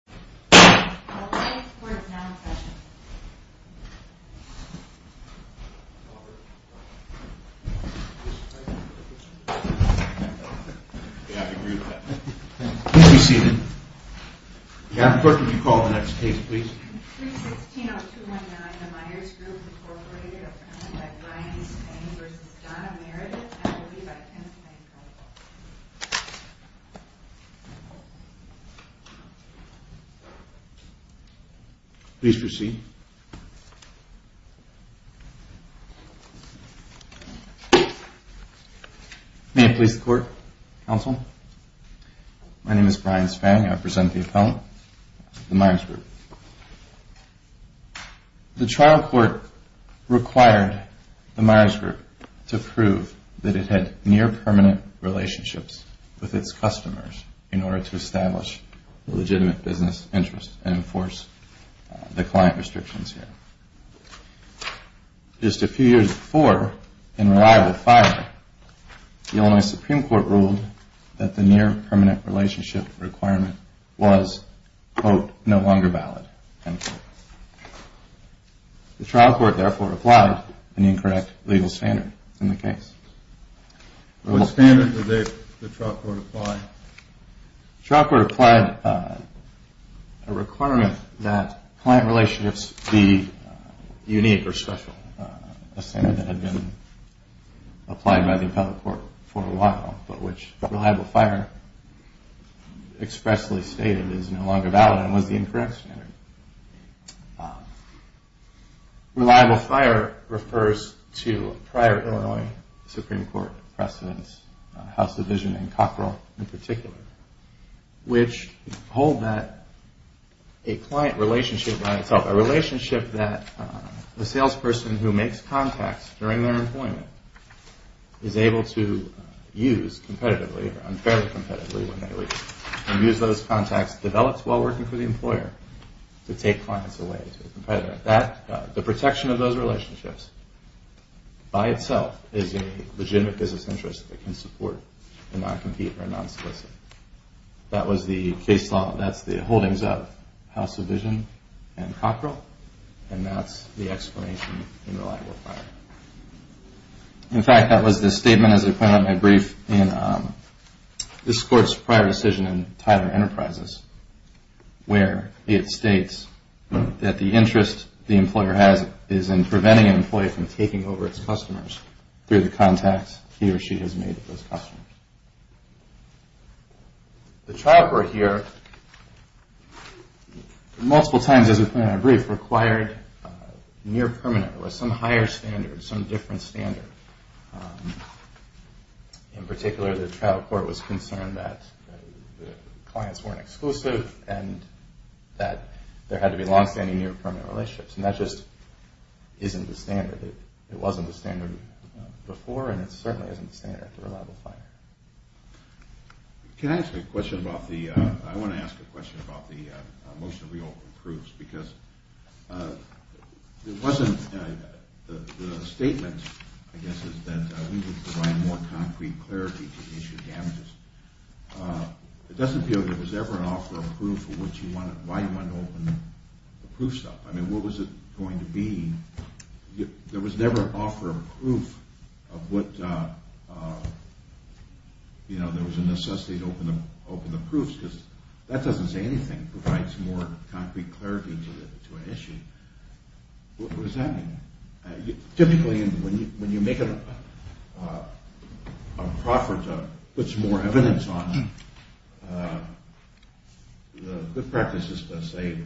316-0219, the Myers Group, Inc. v. Donna Meredith, and will be by Penn State College. Please proceed. May it please the Court, Counsel. My name is Brian Spang. I represent the appellant, the Myers Group. The trial court required the Myers Group to prove that it had near-permanent relationships with its customers in order to establish legitimate business interests and enforce the client restrictions here. Just a few years before, in reliable firing, the Illinois Supreme Court ruled that the near-permanent relationship requirement was, quote, no longer valid. The trial court therefore applied an incorrect legal standard in the case. What standard did the trial court apply? The trial court applied a requirement that client relationships be unique or special, a standard that had been applied by the appellate court for a while, but which reliable fire expressly stated is no longer valid and was the incorrect standard. Reliable fire refers to prior Illinois Supreme Court precedents, House Division and Cockrell in particular, which hold that a client relationship by itself, a relationship that the salesperson who makes contacts during their employment is able to use competitively, unfairly competitively when they leave, and use those contacts developed while working for the employer to take clients away to a competitor. The protection of those relationships by itself is a legitimate business interest that can support and not compete or non-solicit. That was the case law, that's the holdings of House Division and Cockrell, and that's the explanation in reliable fire. In fact, that was the statement, as I pointed out in my brief, in this court's prior decision in Tyler Enterprises, where it states that the interest the employer has is in preventing an employee from taking over its customers through the contacts he or she has made with those customers. The trial court here, multiple times as I pointed out in my brief, required near-permanent or some higher standard, some different standard. In particular, the trial court was concerned that the clients weren't exclusive and that there had to be long-standing near-permanent relationships, and that just isn't the standard. It wasn't the standard before, and it certainly isn't the standard for reliable fire. Can I ask a question about the – I want to ask a question about the motion to reopen proofs, because it wasn't – the statement, I guess, is that we would provide more concrete clarity to issue damages. It doesn't appear that there was ever an offer approved for which you wanted – why you wanted to open the proofs up. I mean, what was it going to be? There was never an offer approved of what – you know, there was a necessity to open the proofs, because that doesn't say anything. It provides more concrete clarity to an issue. What does that mean? Typically, when you make a proffer to put some more evidence on, the good practice is to say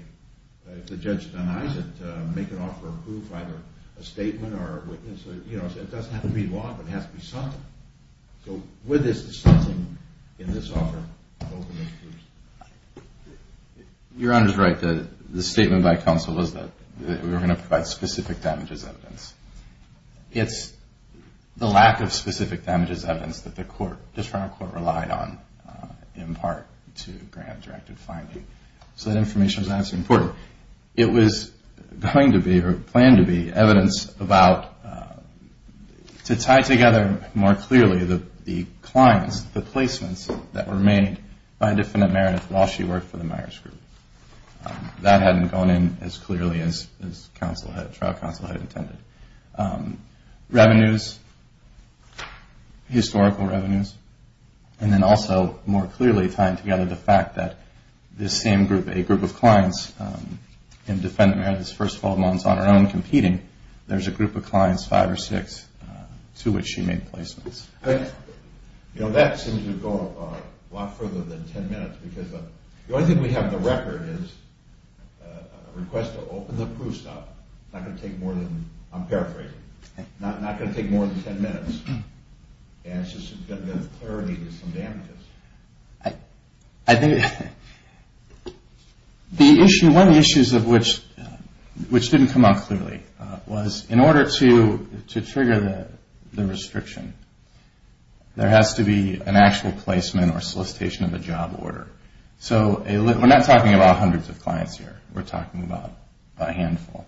if the judge denies it, make an offer approved by either a statement or a witness. You know, it doesn't have to be law, but it has to be something. So with this, it's something in this offer to open the proofs. Your Honor is right. The statement by counsel was that we were going to provide specific damages evidence. It's the lack of specific damages evidence that the court – the trial court relied on in part to grant directed finding. So that information is obviously important. It was going to be or planned to be evidence about – to tie together more clearly the clients, the placements that were made by Defendant Meredith while she worked for the Myers Group. That hadn't gone in as clearly as counsel had – trial counsel had intended. Revenues, historical revenues, and then also more clearly tying together the fact that this same group, a group of clients in Defendant Meredith's first 12 months on her own competing, there's a group of clients, five or six, to which she made placements. But, you know, that seems to go a lot further than 10 minutes, because the only thing we have in the record is a request to open the proofs up. It's not going to take more than – I'm paraphrasing. It's not going to take more than 10 minutes, and it's just going to give clarity to some damages. I think the issue – one of the issues of which didn't come out clearly was in order to trigger the restriction, there has to be an actual placement or solicitation of a job order. So we're not talking about hundreds of clients here. We're talking about a handful.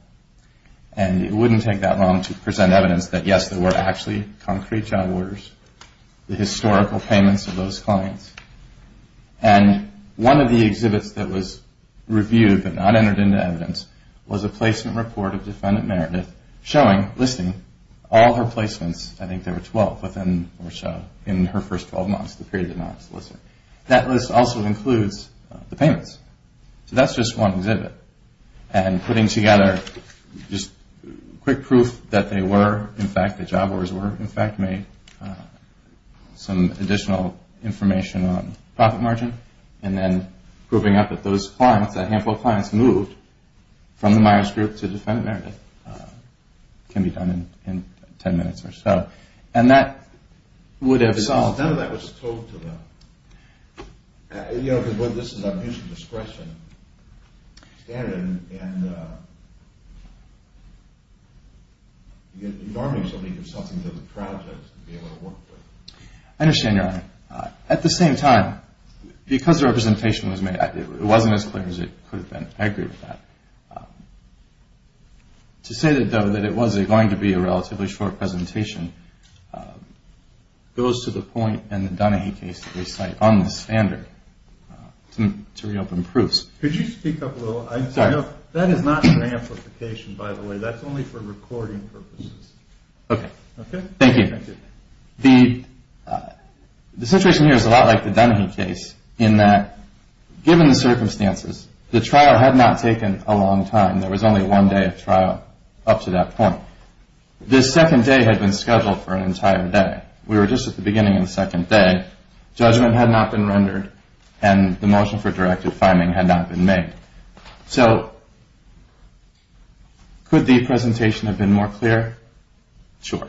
And it wouldn't take that long to present evidence that, yes, there were actually concrete job orders, the historical payments of those clients. And one of the exhibits that was reviewed but not entered into evidence was a placement report of Defendant Meredith showing, listing, all her placements. I think there were 12 of them that were shown in her first 12 months, the period of non-solicitor. That list also includes the payments. So that's just one exhibit. And putting together just quick proof that they were, in fact, the job orders were, in fact, made, some additional information on profit margin, and then proving that those clients, that handful of clients moved from the Myers Group to Defendant Meredith can be done in 10 minutes or so. And that would have solved – None of that was told to them. You know, because this is a huge discretion standard, and normally somebody gives something to the project to be able to work with. I understand, Your Honor. At the same time, because the representation was made, it wasn't as clear as it could have been. I agree with that. To say, though, that it was going to be a relatively short presentation goes to the point in the Dunahee case that we cite on the standard to reopen proofs. Could you speak up a little? Sorry. That is not an amplification, by the way. That's only for recording purposes. Okay. Okay? Thank you. Thank you. The situation here is a lot like the Dunahee case in that, given the circumstances, the trial had not taken a long time. There was only one day of trial up to that point. This second day had been scheduled for an entire day. We were just at the beginning of the second day. Judgment had not been rendered, and the motion for directive finding had not been made. So could the presentation have been more clear? Sure.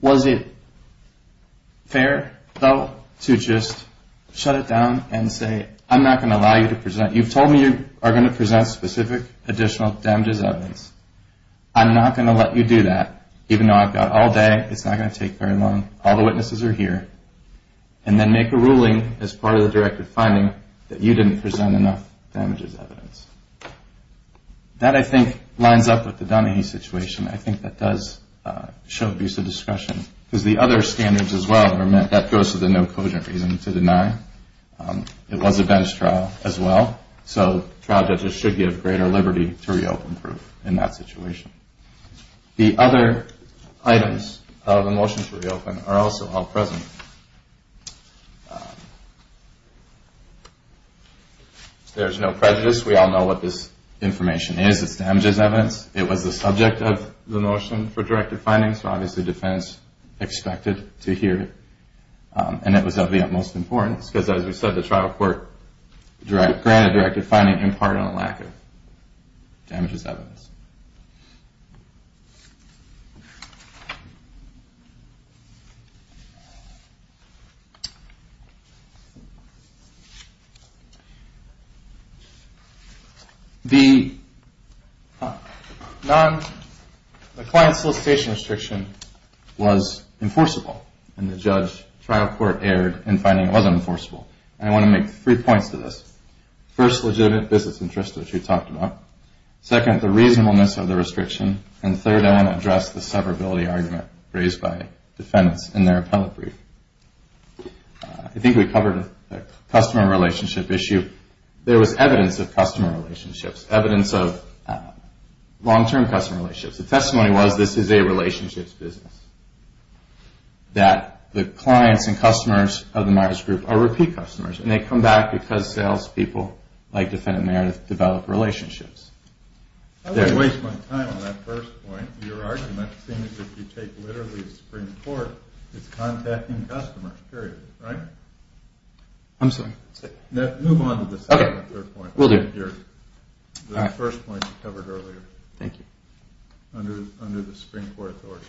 Was it fair, though, to just shut it down and say, I'm not going to allow you to present – I'm not going to let you do that, even though I've got all day. It's not going to take very long. All the witnesses are here. And then make a ruling as part of the directive finding that you didn't present enough damages evidence. That, I think, lines up with the Dunahee situation. I think that does show abuse of discretion, because the other standards as well are meant – that goes to the no-quotient reason to deny. It was a bench trial as well, so trial judges should be of greater liberty to reopen proof in that situation. The other items of the motion to reopen are also all present. There's no prejudice. We all know what this information is. It's damages evidence. It was the subject of the motion for directive finding, so obviously defense expected to hear it. And it was of the utmost importance, because as we said, the trial court granted directive finding in part on the lack of damages evidence. The client solicitation restriction was enforceable, and the trial court erred in finding it wasn't enforceable. And I want to make three points to this. First, legitimate business interests, which we talked about. Second, the reasonableness of the restriction. And third, I want to address the severability argument raised by defendants in their appellate brief. I think we covered a customer relationship issue. There was evidence of customer relationships, evidence of long-term customer relationships. The testimony was this is a relationships business. That the clients and customers of the Myers Group are repeat customers, and they come back because salespeople, like defendant Meredith, develop relationships. I don't want to waste my time on that first point. Your argument seems as if you take literally the Supreme Court as contacting customers, period, right? I'm sorry. Move on to the second or third point. We'll do it. The first point you covered earlier. Thank you. Under the Supreme Court authority.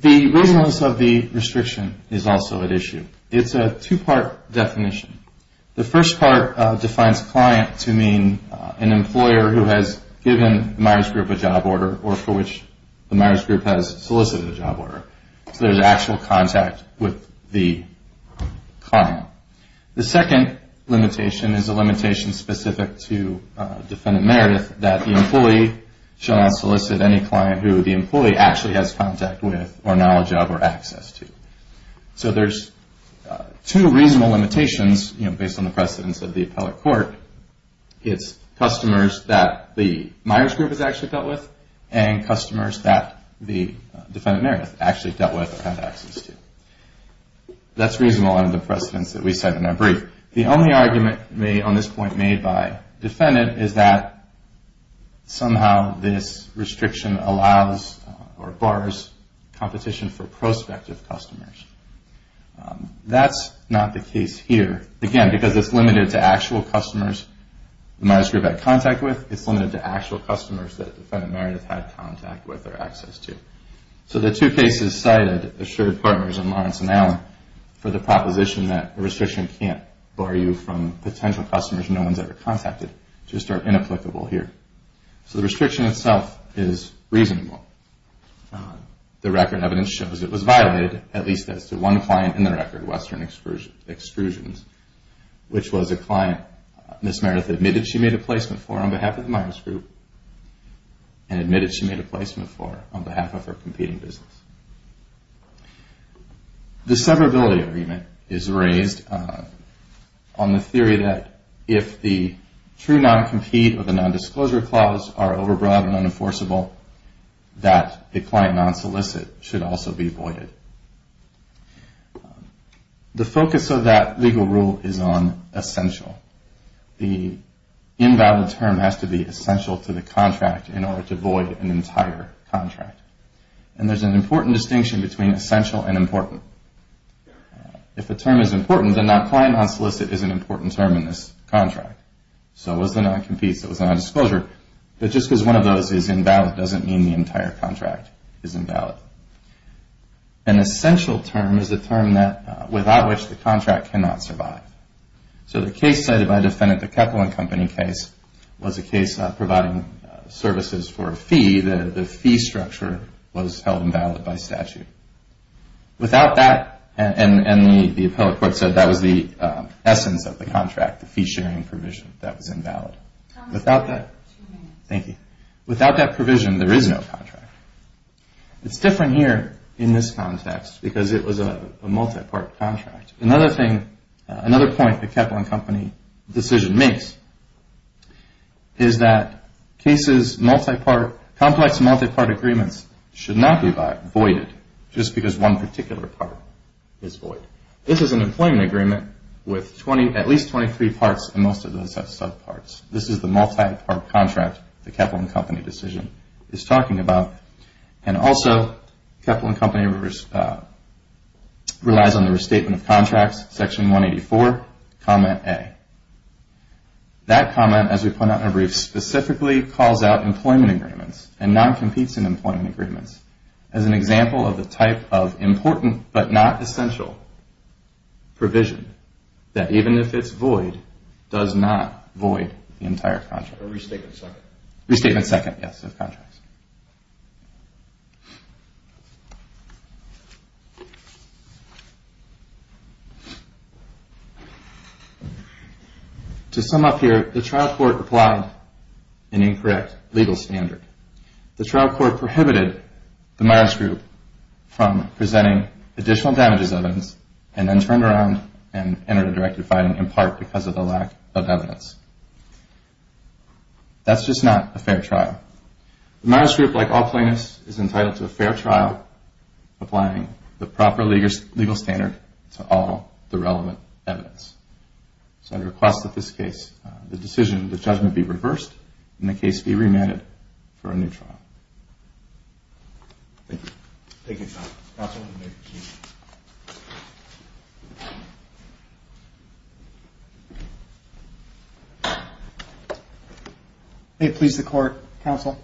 The reasonableness of the restriction is also at issue. It's a two-part definition. The first part defines client to mean an employer who has given the Myers Group a job order or for which the Myers Group has solicited a job order. So there's actual contact with the client. The second limitation is a limitation specific to defendant Meredith that the employee shall not solicit any client who the employee actually has contact with or knowledge of or access to. So there's two reasonable limitations, you know, based on the precedence of the appellate court. It's customers that the Myers Group has actually dealt with and customers that the defendant Meredith actually dealt with or had access to. That's reasonable under the precedence that we set in our brief. The only argument on this point made by defendant is that somehow this restriction allows or bars competition for prospective customers. That's not the case here. Again, because it's limited to actual customers the Myers Group had contact with, it's limited to actual customers that the defendant Meredith had contact with or access to. So the two cases cited, Assured Partners and Lawrence & Allen, for the proposition that a restriction can't bar you from potential customers no one's ever contacted just are inapplicable here. So the restriction itself is reasonable. The record evidence shows it was violated at least as to one client in the record, Western Extrusions, which was a client Ms. Meredith admitted she made a placement for on behalf of the Myers Group and admitted she made a placement for on behalf of her competing business. The severability agreement is raised on the theory that if the true non-compete or the non-disclosure clause are overbroad and unenforceable, that the client non-solicit should also be voided. The focus of that legal rule is on essential. The invalid term has to be essential to the contract in order to void an entire contract. And there's an important distinction between essential and important. If a term is important, then that client non-solicit is an important term in this contract. So was the non-compete, so was the non-disclosure, but just because one of those is invalid doesn't mean the entire contract is invalid. An essential term is a term without which the contract cannot survive. So the case cited by the defendant, the Kepler & Company case, was a case providing services for a fee. The fee structure was held invalid by statute. Without that, and the appellate court said that was the essence of the contract, the fee-sharing provision, that was invalid. Without that provision, there is no contract. It's different here in this context because it was a multi-part contract. Another thing, another point the Kepler & Company decision makes is that cases multi-part, complex multi-part agreements should not be voided just because one particular part is void. This is an employment agreement with at least 23 parts and most of those have sub-parts. This is the multi-part contract the Kepler & Company decision is talking about. And also, Kepler & Company relies on the restatement of contracts, section 184, comment A. That comment, as we point out in our brief, specifically calls out employment agreements and non-competes in employment agreements as an example of the type of important but not essential provision that even if it's void, does not void the entire contract. Restatement second, yes, of contracts. To sum up here, the trial court applied an incorrect legal standard. The trial court prohibited the Myers group from presenting additional damages evidence and then turned around and entered a directive filing in part because of the lack of evidence. That's just not a fair trial. The Myers group, like all plaintiffs, is entitled to a fair trial applying the proper legal standard to all the relevant evidence. So I request that this case, the decision, the judgment be reversed and the case be remanded for a new trial. Thank you. Thank you, counsel. May it please the court, counsel.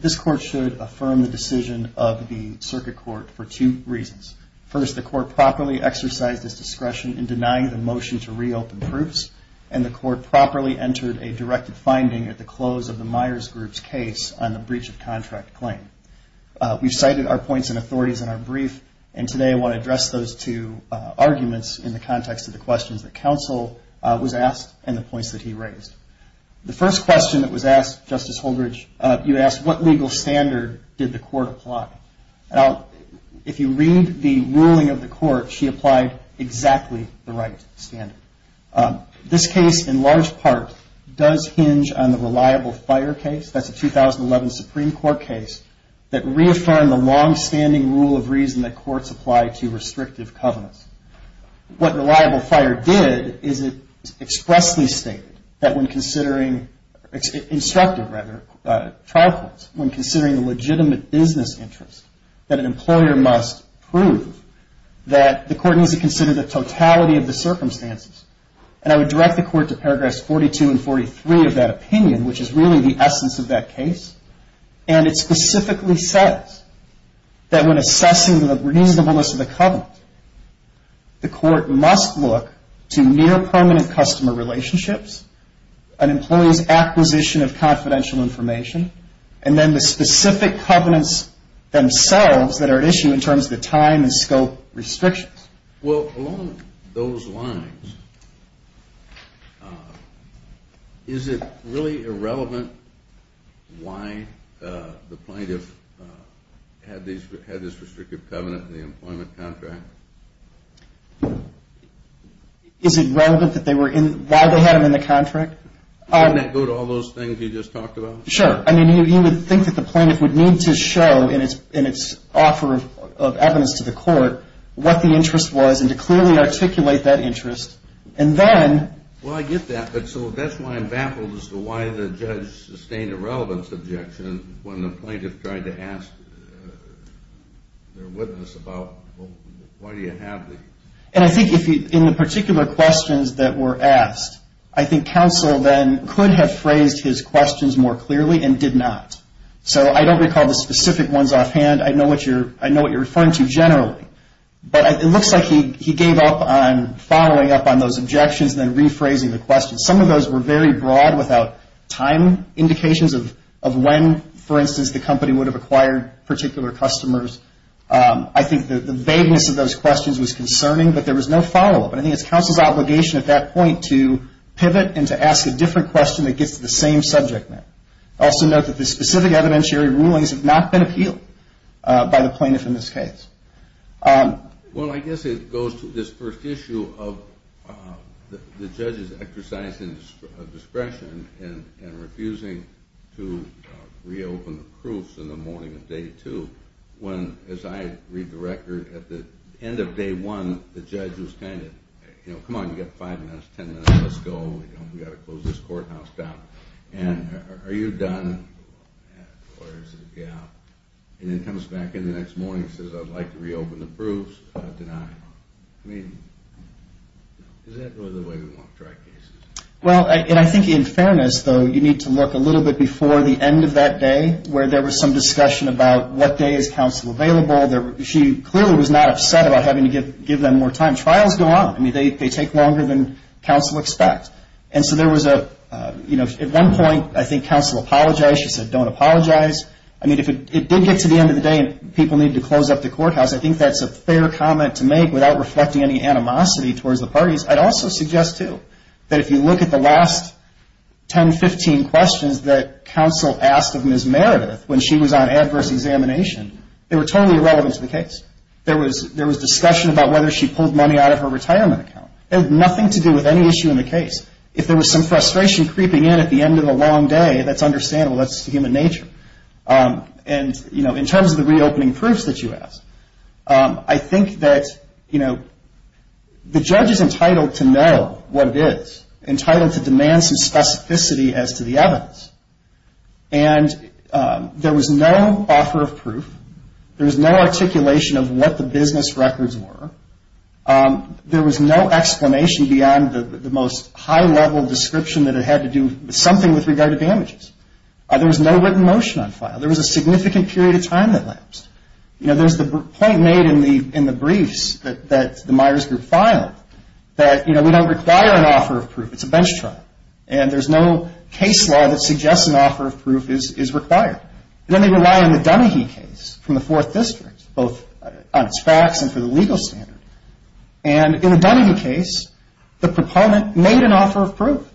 This court should affirm the decision of the circuit court for two reasons. First, the court properly exercised its discretion in denying the motion to reopen proofs and the court properly entered a directive finding at the close of the Myers group's case on the breach of contract claim. We've cited our points and authorities in our brief, and today I want to address those two arguments in the context of the questions that counsel was asked and the points that he raised. The first question that was asked, Justice Holdredge, you asked, what legal standard did the court apply? Now, if you read the ruling of the court, she applied exactly the right standard. This case, in large part, does hinge on the reliable fire case. That's a 2011 Supreme Court case that reaffirmed the longstanding rule of reason that courts apply to restrictive covenants. What reliable fire did is it expressly stated that when considering instructive, rather, trial courts, when considering a legitimate business interest, that an employer must prove that the court needs to consider the totality of the circumstances. And I would direct the court to paragraphs 42 and 43 of that opinion, which is really the essence of that case. And it specifically says that when assessing the reasonableness of the covenant, the court must look to near permanent customer relationships, an employee's acquisition of confidential information, and then the specific covenants themselves that are at issue in terms of the time and scope restrictions. Well, along those lines, is it really irrelevant why the plaintiff had this restrictive covenant in the employment contract? Is it relevant that they were in, why they had them in the contract? Wouldn't that go to all those things you just talked about? Sure. I mean, you would think that the plaintiff would need to show in its offer of evidence to the court what the interest was and to clearly articulate that interest. And then ‑‑ Well, I get that. But so that's why I'm baffled as to why the judge sustained a relevance objection when the plaintiff tried to ask their witness about why do you have these. And I think in the particular questions that were asked, I think counsel then could have phrased his questions more clearly and did not. So I don't recall the specific ones offhand. I know what you're referring to generally. But it looks like he gave up on following up on those objections and then rephrasing the questions. Some of those were very broad without time indications of when, for instance, the company would have acquired particular customers. I think the vagueness of those questions was concerning, but there was no follow-up. And I think it's counsel's obligation at that point to pivot and to ask a different question that gets to the same subject matter. Also note that the specific evidentiary rulings have not been appealed by the plaintiff in this case. Well, I guess it goes to this first issue of the judge's exercise of discretion in refusing to reopen the proofs in the morning of day two. When, as I read the record, at the end of day one, the judge was kind of, you know, come on, you've got five minutes, ten minutes, let's go. We've got to close this courthouse down. And are you done? And then comes back in the next morning and says, I'd like to reopen the proofs, denied. I mean, is that really the way we want to try cases? Well, and I think in fairness, though, you need to look a little bit before the end of that day where there was some discussion about what day is counsel available. She clearly was not upset about having to give them more time. Trials go on. I mean, they take longer than counsel expects. And so there was a, you know, at one point I think counsel apologized. She said don't apologize. I mean, if it did get to the end of the day and people needed to close up the courthouse, I think that's a fair comment to make without reflecting any animosity towards the parties. I'd also suggest, too, that if you look at the last ten, 15 questions that counsel asked of Ms. Meredith when she was on adverse examination, they were totally irrelevant to the case. There was discussion about whether she pulled money out of her retirement account. It had nothing to do with any issue in the case. If there was some frustration creeping in at the end of a long day, that's understandable. That's human nature. And, you know, in terms of the reopening proofs that you asked, I think that, you know, the judge is entitled to know what it is, entitled to demand some specificity as to the evidence. And there was no offer of proof. There was no articulation of what the business records were. There was no explanation beyond the most high-level description that it had to do something with regard to damages. There was no written motion on file. There was a significant period of time that lapsed. You know, there's the point made in the briefs that the Myers Group filed that, you know, we don't require an offer of proof. It's a bench trial. And there's no case law that suggests an offer of proof is required. And then they rely on the Dunahee case from the 4th District, both on its facts and for the legal standard. And in the Dunahee case, the proponent made an offer of proof.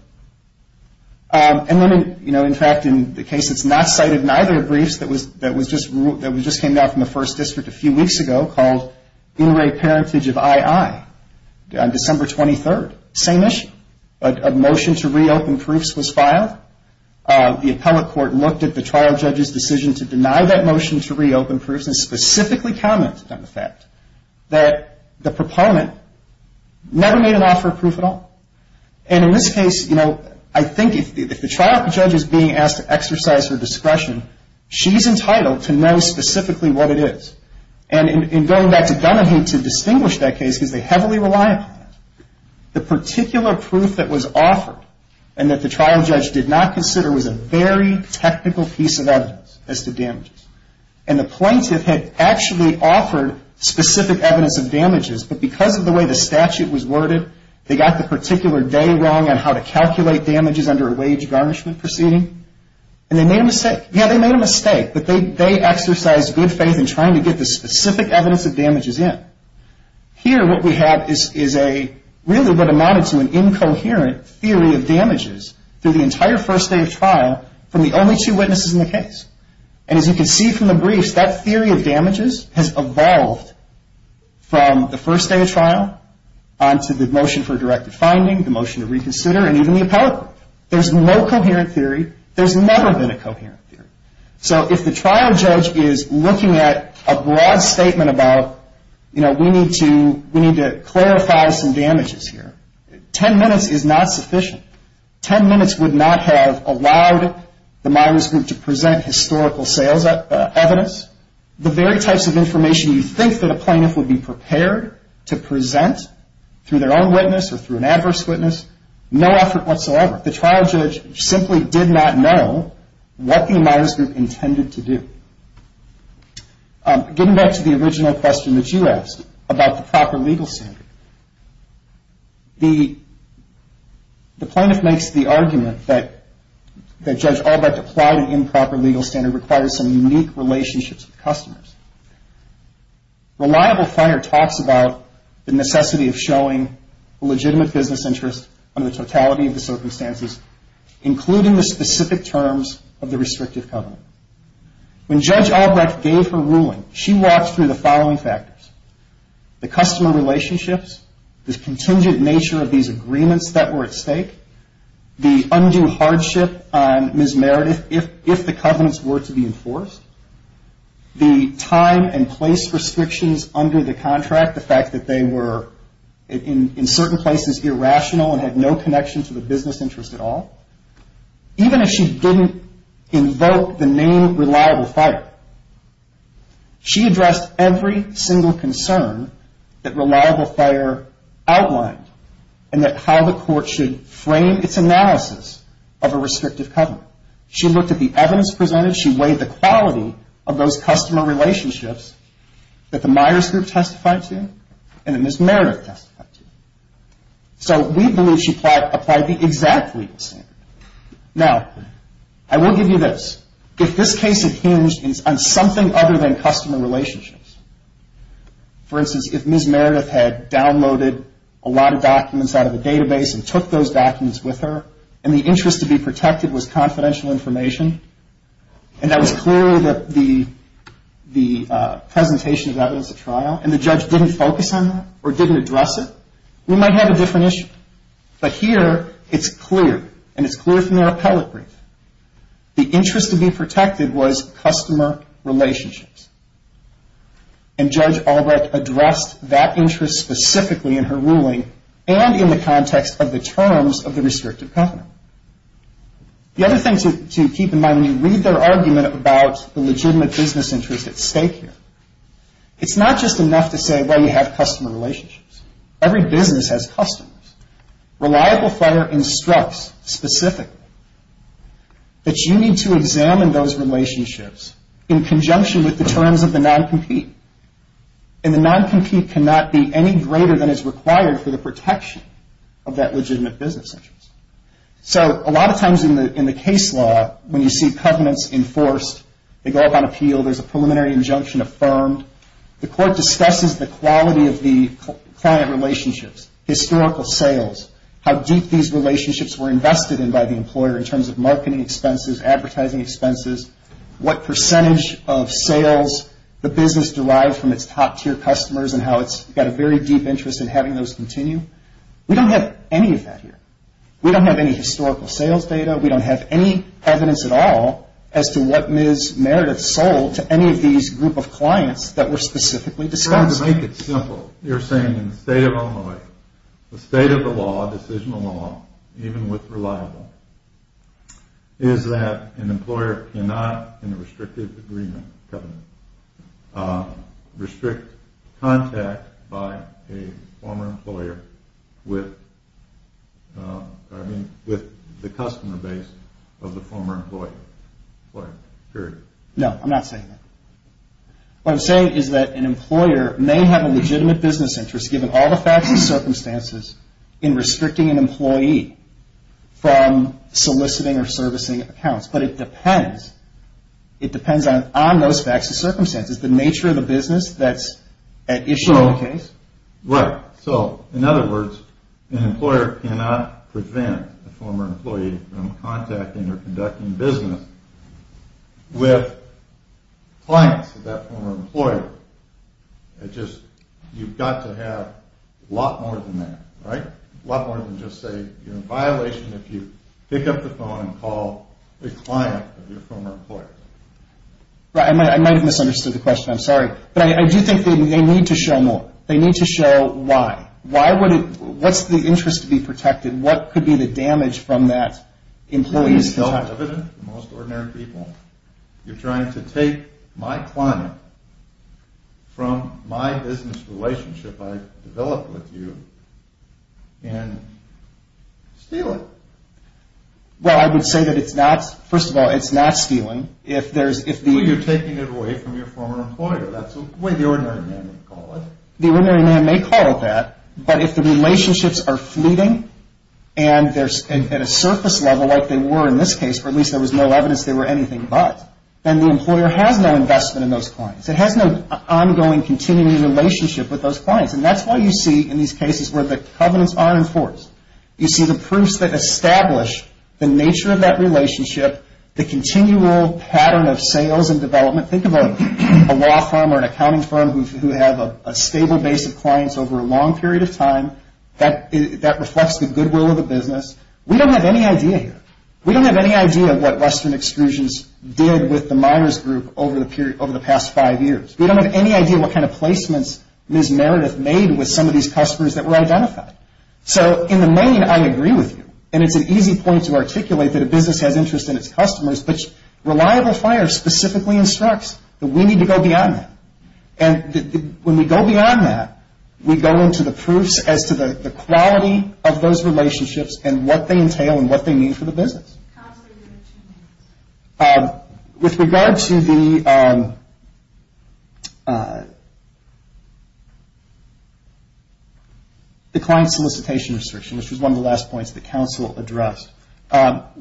And then, you know, in fact, in the case that's not cited, neither of the briefs that just came out from the 1st District a few weeks ago called In Re Parentage of I.I. on December 23rd, same issue. A motion to reopen proofs was filed. The appellate court looked at the trial judge's decision to deny that motion to reopen proofs and specifically commented on the fact that the proponent never made an offer of proof at all. And in this case, you know, I think if the trial judge is being asked to exercise her discretion, she's entitled to know specifically what it is. And in going back to Dunahee to distinguish that case, because they heavily rely upon that, the particular proof that was offered and that the trial judge did not consider was a very technical piece of evidence as to damages. And the plaintiff had actually offered specific evidence of damages, but because of the way the statute was worded, they got the particular day wrong on how to calculate damages under a wage garnishment proceeding. And they made a mistake. Yeah, they made a mistake, but they exercised good faith in trying to get the specific evidence of damages in. Here what we have is a really what amounted to an incoherent theory of damages through the entire first day of trial from the only two witnesses in the case. And as you can see from the briefs, that theory of damages has evolved from the first day of trial onto the motion for directed finding, the motion to reconsider, and even the appellate court. There's no coherent theory. There's never been a coherent theory. So if the trial judge is looking at a broad statement about, you know, we need to clarify some damages here, ten minutes is not sufficient. Ten minutes would not have allowed the Myers group to present historical sales evidence. The very types of information you think that a plaintiff would be prepared to present through their own witness or through an adverse witness, no effort whatsoever. The trial judge simply did not know what the Myers group intended to do. Getting back to the original question that you asked about the proper legal standard, the plaintiff makes the argument that Judge Albrecht applied an improper legal standard requires some unique relationships with customers. Reliable Finer talks about the necessity of showing a legitimate business interest under the totality of the circumstances, including the specific terms of the restrictive covenant. When Judge Albrecht gave her ruling, she walked through the following factors. The customer relationships, the contingent nature of these agreements that were at stake, the undue hardship on Ms. Meredith if the covenants were to be enforced, the time and place restrictions under the contract, the fact that they were in certain places irrational and had no connection to the business interest at all. Even if she didn't invoke the name Reliable Finer, she addressed every single concern that Reliable Finer outlined and that how the court should frame its analysis of a restrictive covenant. She looked at the evidence presented. She weighed the quality of those customer relationships that the Myers Group testified to and that Ms. Meredith testified to. So we believe she applied the exact legal standard. Now, I will give you this. If this case had hinged on something other than customer relationships, for instance, if Ms. Meredith had downloaded a lot of documents out of a database and took those documents with her and the interest to be protected was confidential information and that was clearly the presentation of evidence at trial and the judge didn't focus on that or didn't address it, we might have a different issue. But here it's clear, and it's clear from their appellate brief. The interest to be protected was customer relationships. And Judge Albrecht addressed that interest specifically in her ruling and in the context of the terms of the restrictive covenant. The other thing to keep in mind when you read their argument about the legitimate business interest at stake here, it's not just enough to say, well, you have customer relationships. Every business has customers. Reliable Finer instructs specifically that you need to examine those relationships in conjunction with the terms of the non-compete. And the non-compete cannot be any greater than is required for the protection of that legitimate business interest. So a lot of times in the case law, when you see covenants enforced, they go up on appeal, there's a preliminary injunction affirmed, the court discusses the quality of the client relationships, historical sales, how deep these relationships were invested in by the employer in terms of marketing expenses, advertising expenses, what percentage of sales the business derived from its top-tier customers and how it's got a very deep interest in having those continue. We don't have any of that here. We don't have any historical sales data. We don't have any evidence at all as to what Ms. Meredith sold to any of these group of clients that were specifically discussed. In order to make it simple, you're saying in the state of Illinois, the state of the law, decisional law, even with reliable, is that an employer cannot, in a restrictive agreement covenant, restrict contact by a former employer with the customer base of the former employer, period. No, I'm not saying that. What I'm saying is that an employer may have a legitimate business interest, given all the facts and circumstances, in restricting an employee from soliciting or servicing accounts, but it depends on those facts and circumstances, the nature of the business that's at issue in the case. Right. So, in other words, an employer cannot prevent a former employee from contacting or conducting business with clients of that former employer. You've got to have a lot more than that, right? A lot more than just say you're in violation if you pick up the phone and call a client of your former employer. I might have misunderstood the question. I'm sorry. But I do think they need to show more. They need to show why. What's the interest to be protected? What could be the damage from that employee's contact? It's self-evident to most ordinary people. You're trying to take my client from my business relationship I've developed with you and steal it. Well, I would say that it's not, first of all, it's not stealing. You're taking it away from your former employer. That's the way the ordinary man would call it. The ordinary man may call it that, but if the relationships are fleeting and they're at a surface level, like they were in this case, or at least there was no evidence they were anything but, then the employer has no investment in those clients. It has no ongoing, continuing relationship with those clients. And that's why you see in these cases where the covenants are enforced, you see the proofs that establish the nature of that relationship, the continual pattern of sales and development. Think of a law firm or an accounting firm who have a stable base of clients over a long period of time. That reflects the goodwill of the business. We don't have any idea here. We don't have any idea what Western Exclusions did with the Myers Group over the past five years. We don't have any idea what kind of placements Ms. Meredith made with some of these customers that were identified. So in the main, I agree with you. And it's an easy point to articulate that a business has interest in its customers, but reliable fire specifically instructs that we need to go beyond that. And when we go beyond that, we go into the proofs as to the quality of those relationships and what they entail and what they mean for the business. Counselor, you have two minutes. With regard to the client solicitation restriction, which was one of the last points that counsel addressed,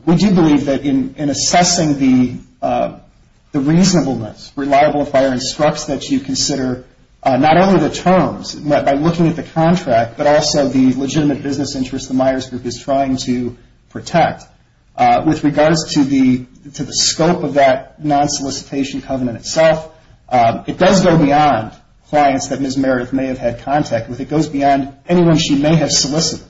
we do believe that in assessing the reasonableness, reliable fire instructs that you consider not only the terms, by looking at the contract, but also the legitimate business interest the Myers Group is trying to protect. With regards to the scope of that non-solicitation covenant itself, it does go beyond clients that Ms. Meredith may have had contact with. It goes beyond anyone she may have solicited.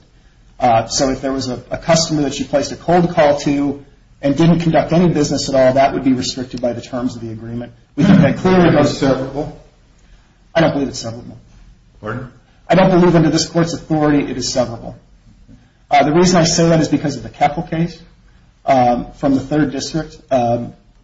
So if there was a customer that she placed a cold call to and didn't conduct any business at all, that would be restricted by the terms of the agreement. We think that clearly goes severable. I don't believe it's severable. Pardon? I don't believe under this Court's authority it is severable. The reason I say that is because of the Keppel case from the 3rd District.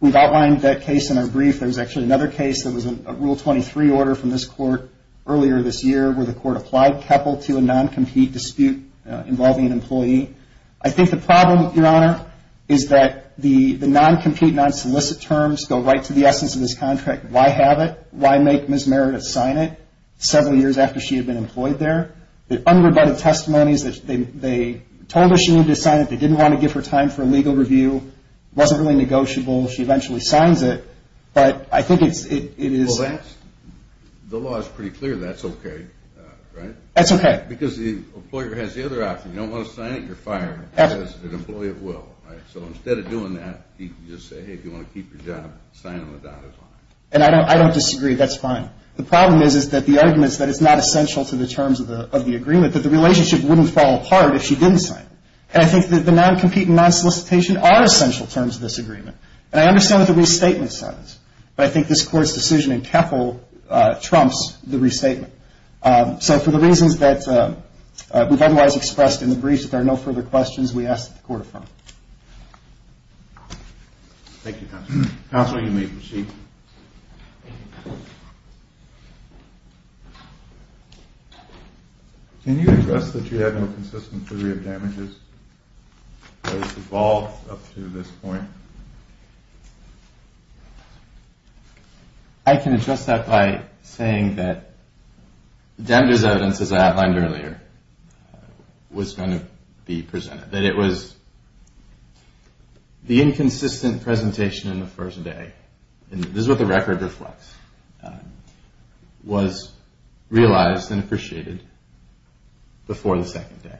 We've outlined that case in our brief. There was actually another case that was a Rule 23 order from this Court earlier this year where the Court applied Keppel to a non-compete dispute involving an employee. I think the problem, Your Honor, is that the non-compete, non-solicit terms go right to the essence of this contract. Why have it? Why make Ms. Meredith sign it several years after she had been employed there? The unrebutted testimony is that they told her she needed to sign it. They didn't want to give her time for a legal review. It wasn't really negotiable. She eventually signs it. But I think it is... Well, the law is pretty clear that's okay, right? That's okay. Because the employer has the other option. You don't want to sign it, you're fired as an employee of will. So instead of doing that, you can just say, hey, if you want to keep your job, sign on the dotted line. And I don't disagree. That's fine. The problem is that the argument is that it's not essential to the terms of the agreement, that the relationship wouldn't fall apart if she didn't sign it. And I think that the non-compete and non-solicitation are essential terms of this agreement. And I understand what the restatement says. But I think this Court's decision in Keppel trumps the restatement. So for the reasons that we've otherwise expressed in the briefs, if there are no further questions, we ask that the Court affirm. Thank you, Counselor. Counselor, you may proceed. Can you address that you have no consistent theory of damages that has evolved up to this point? I can address that by saying that damages evidence, as I outlined earlier, was going to be presented. That it was the inconsistent presentation in the first day, and this is what the record reflects, was realized and appreciated before the second day.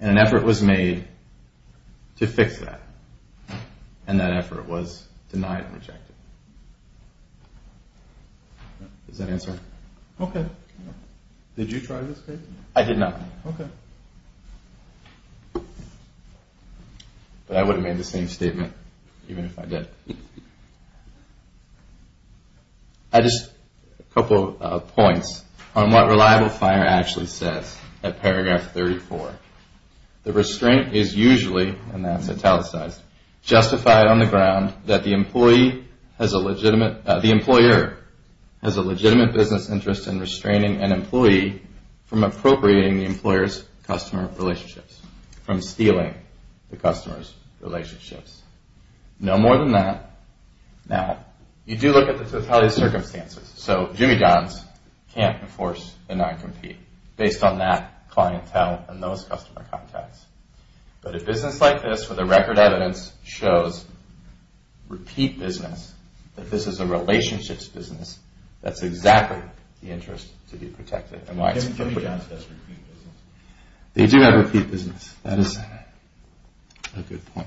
And an effort was made to fix that. And that effort was denied and rejected. Does that answer it? Okay. Did you try this case? I did not. Okay. But I would have made the same statement even if I did. I just have a couple of points on what reliable fire actually says at paragraph 34. The restraint is usually, and that's italicized, justified on the ground that the employer has a legitimate business interest in restraining an employee from appropriating the employer's customer relationships, from stealing the customer's relationships. No more than that. Now, you do look at the totality of circumstances. So Jimmy Dons can't enforce a non-compete based on that clientele and those customer contacts. But a business like this, where the record evidence shows repeat business, that this is a relationships business, that's exactly the interest to be protected. Jimmy Dons does repeat business. They do have repeat business. That is a good point.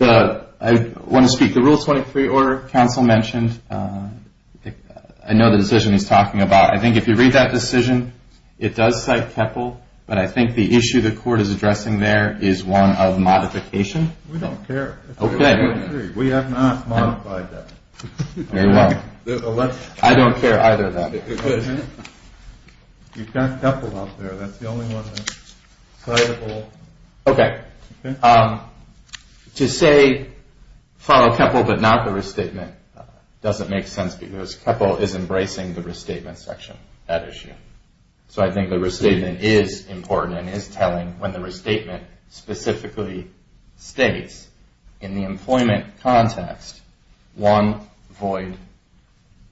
I want to speak. The Rule 23 Order Council mentioned, I know the decision he's talking about. I think if you read that decision, it does cite Keppel. But I think the issue the court is addressing there is one of modification. We don't care. Okay. We have not modified that. I don't care either of that. You've got Keppel up there. That's the only one that's citable. Okay. To say follow Keppel but not the restatement doesn't make sense because Keppel is embracing the restatement section, that issue. So I think the restatement is important and is telling when the restatement specifically states in the employment context one void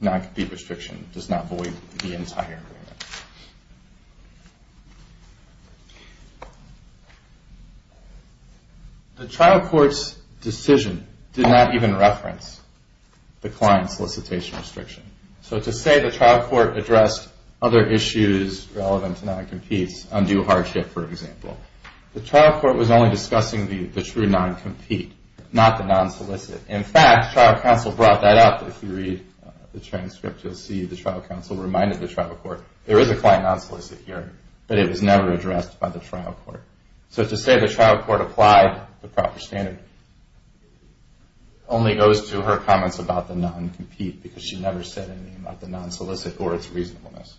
non-compete restriction does not void the entire agreement. Okay. The trial court's decision did not even reference the client solicitation restriction. So to say the trial court addressed other issues relevant to non-competes, undue hardship, for example, the trial court was only discussing the true non-compete, not the non-solicit. In fact, trial counsel brought that up. If you read the transcript, you'll see the trial counsel reminded the trial court there is a client non-solicit here, but it was never addressed by the trial court. So to say the trial court applied the proper standard only goes to her comments about the non-compete because she never said anything about the non-solicit or its reasonableness.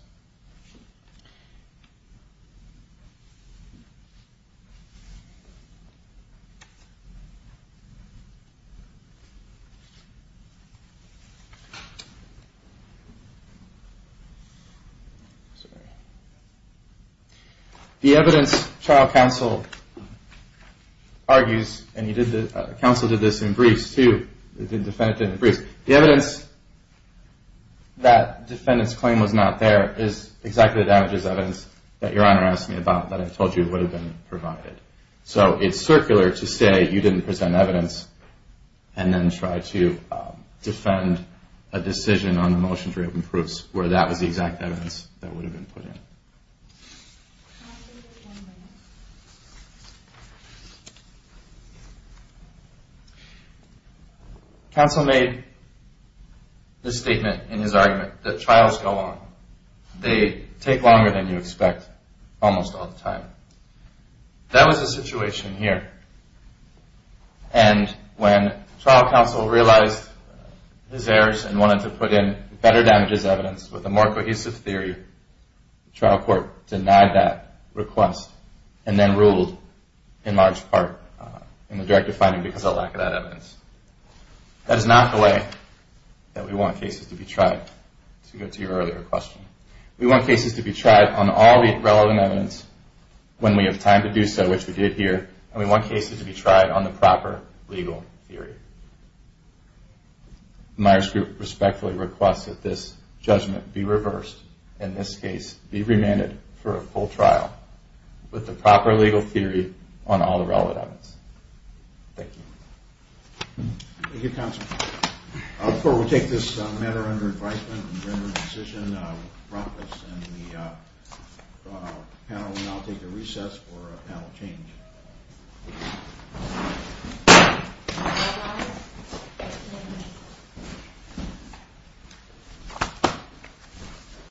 The evidence trial counsel argues, and counsel did this in briefs too, the defendant did it in briefs, the evidence that defendant's claim was not there is exactly the damages evidence that Your Honor asked me about that I told you would have been provided. So it's circular to say you didn't present evidence and then try to defend the defendant's claim. You didn't present a decision on the motion for open proofs where that was the exact evidence that would have been put in. Counsel made the statement in his argument that trials go on. They take longer than you expect almost all the time. That was the situation here. And when trial counsel realized his errors and wanted to put in better damages evidence with a more cohesive theory, the trial court denied that request and then ruled in large part in the directive finding because of the lack of that evidence. That is not the way that we want cases to be tried, to go to your earlier question. We want cases to be tried on all the relevant evidence when we have time to do so, which we did here. And we want cases to be tried on the proper legal theory. Myers Group respectfully requests that this judgment be reversed and this case be remanded for a full trial with the proper legal theory on all the relevant evidence. Thank you. Thank you, Counsel. Before we take this matter under advisement and render a decision, I will now take a recess for panel change.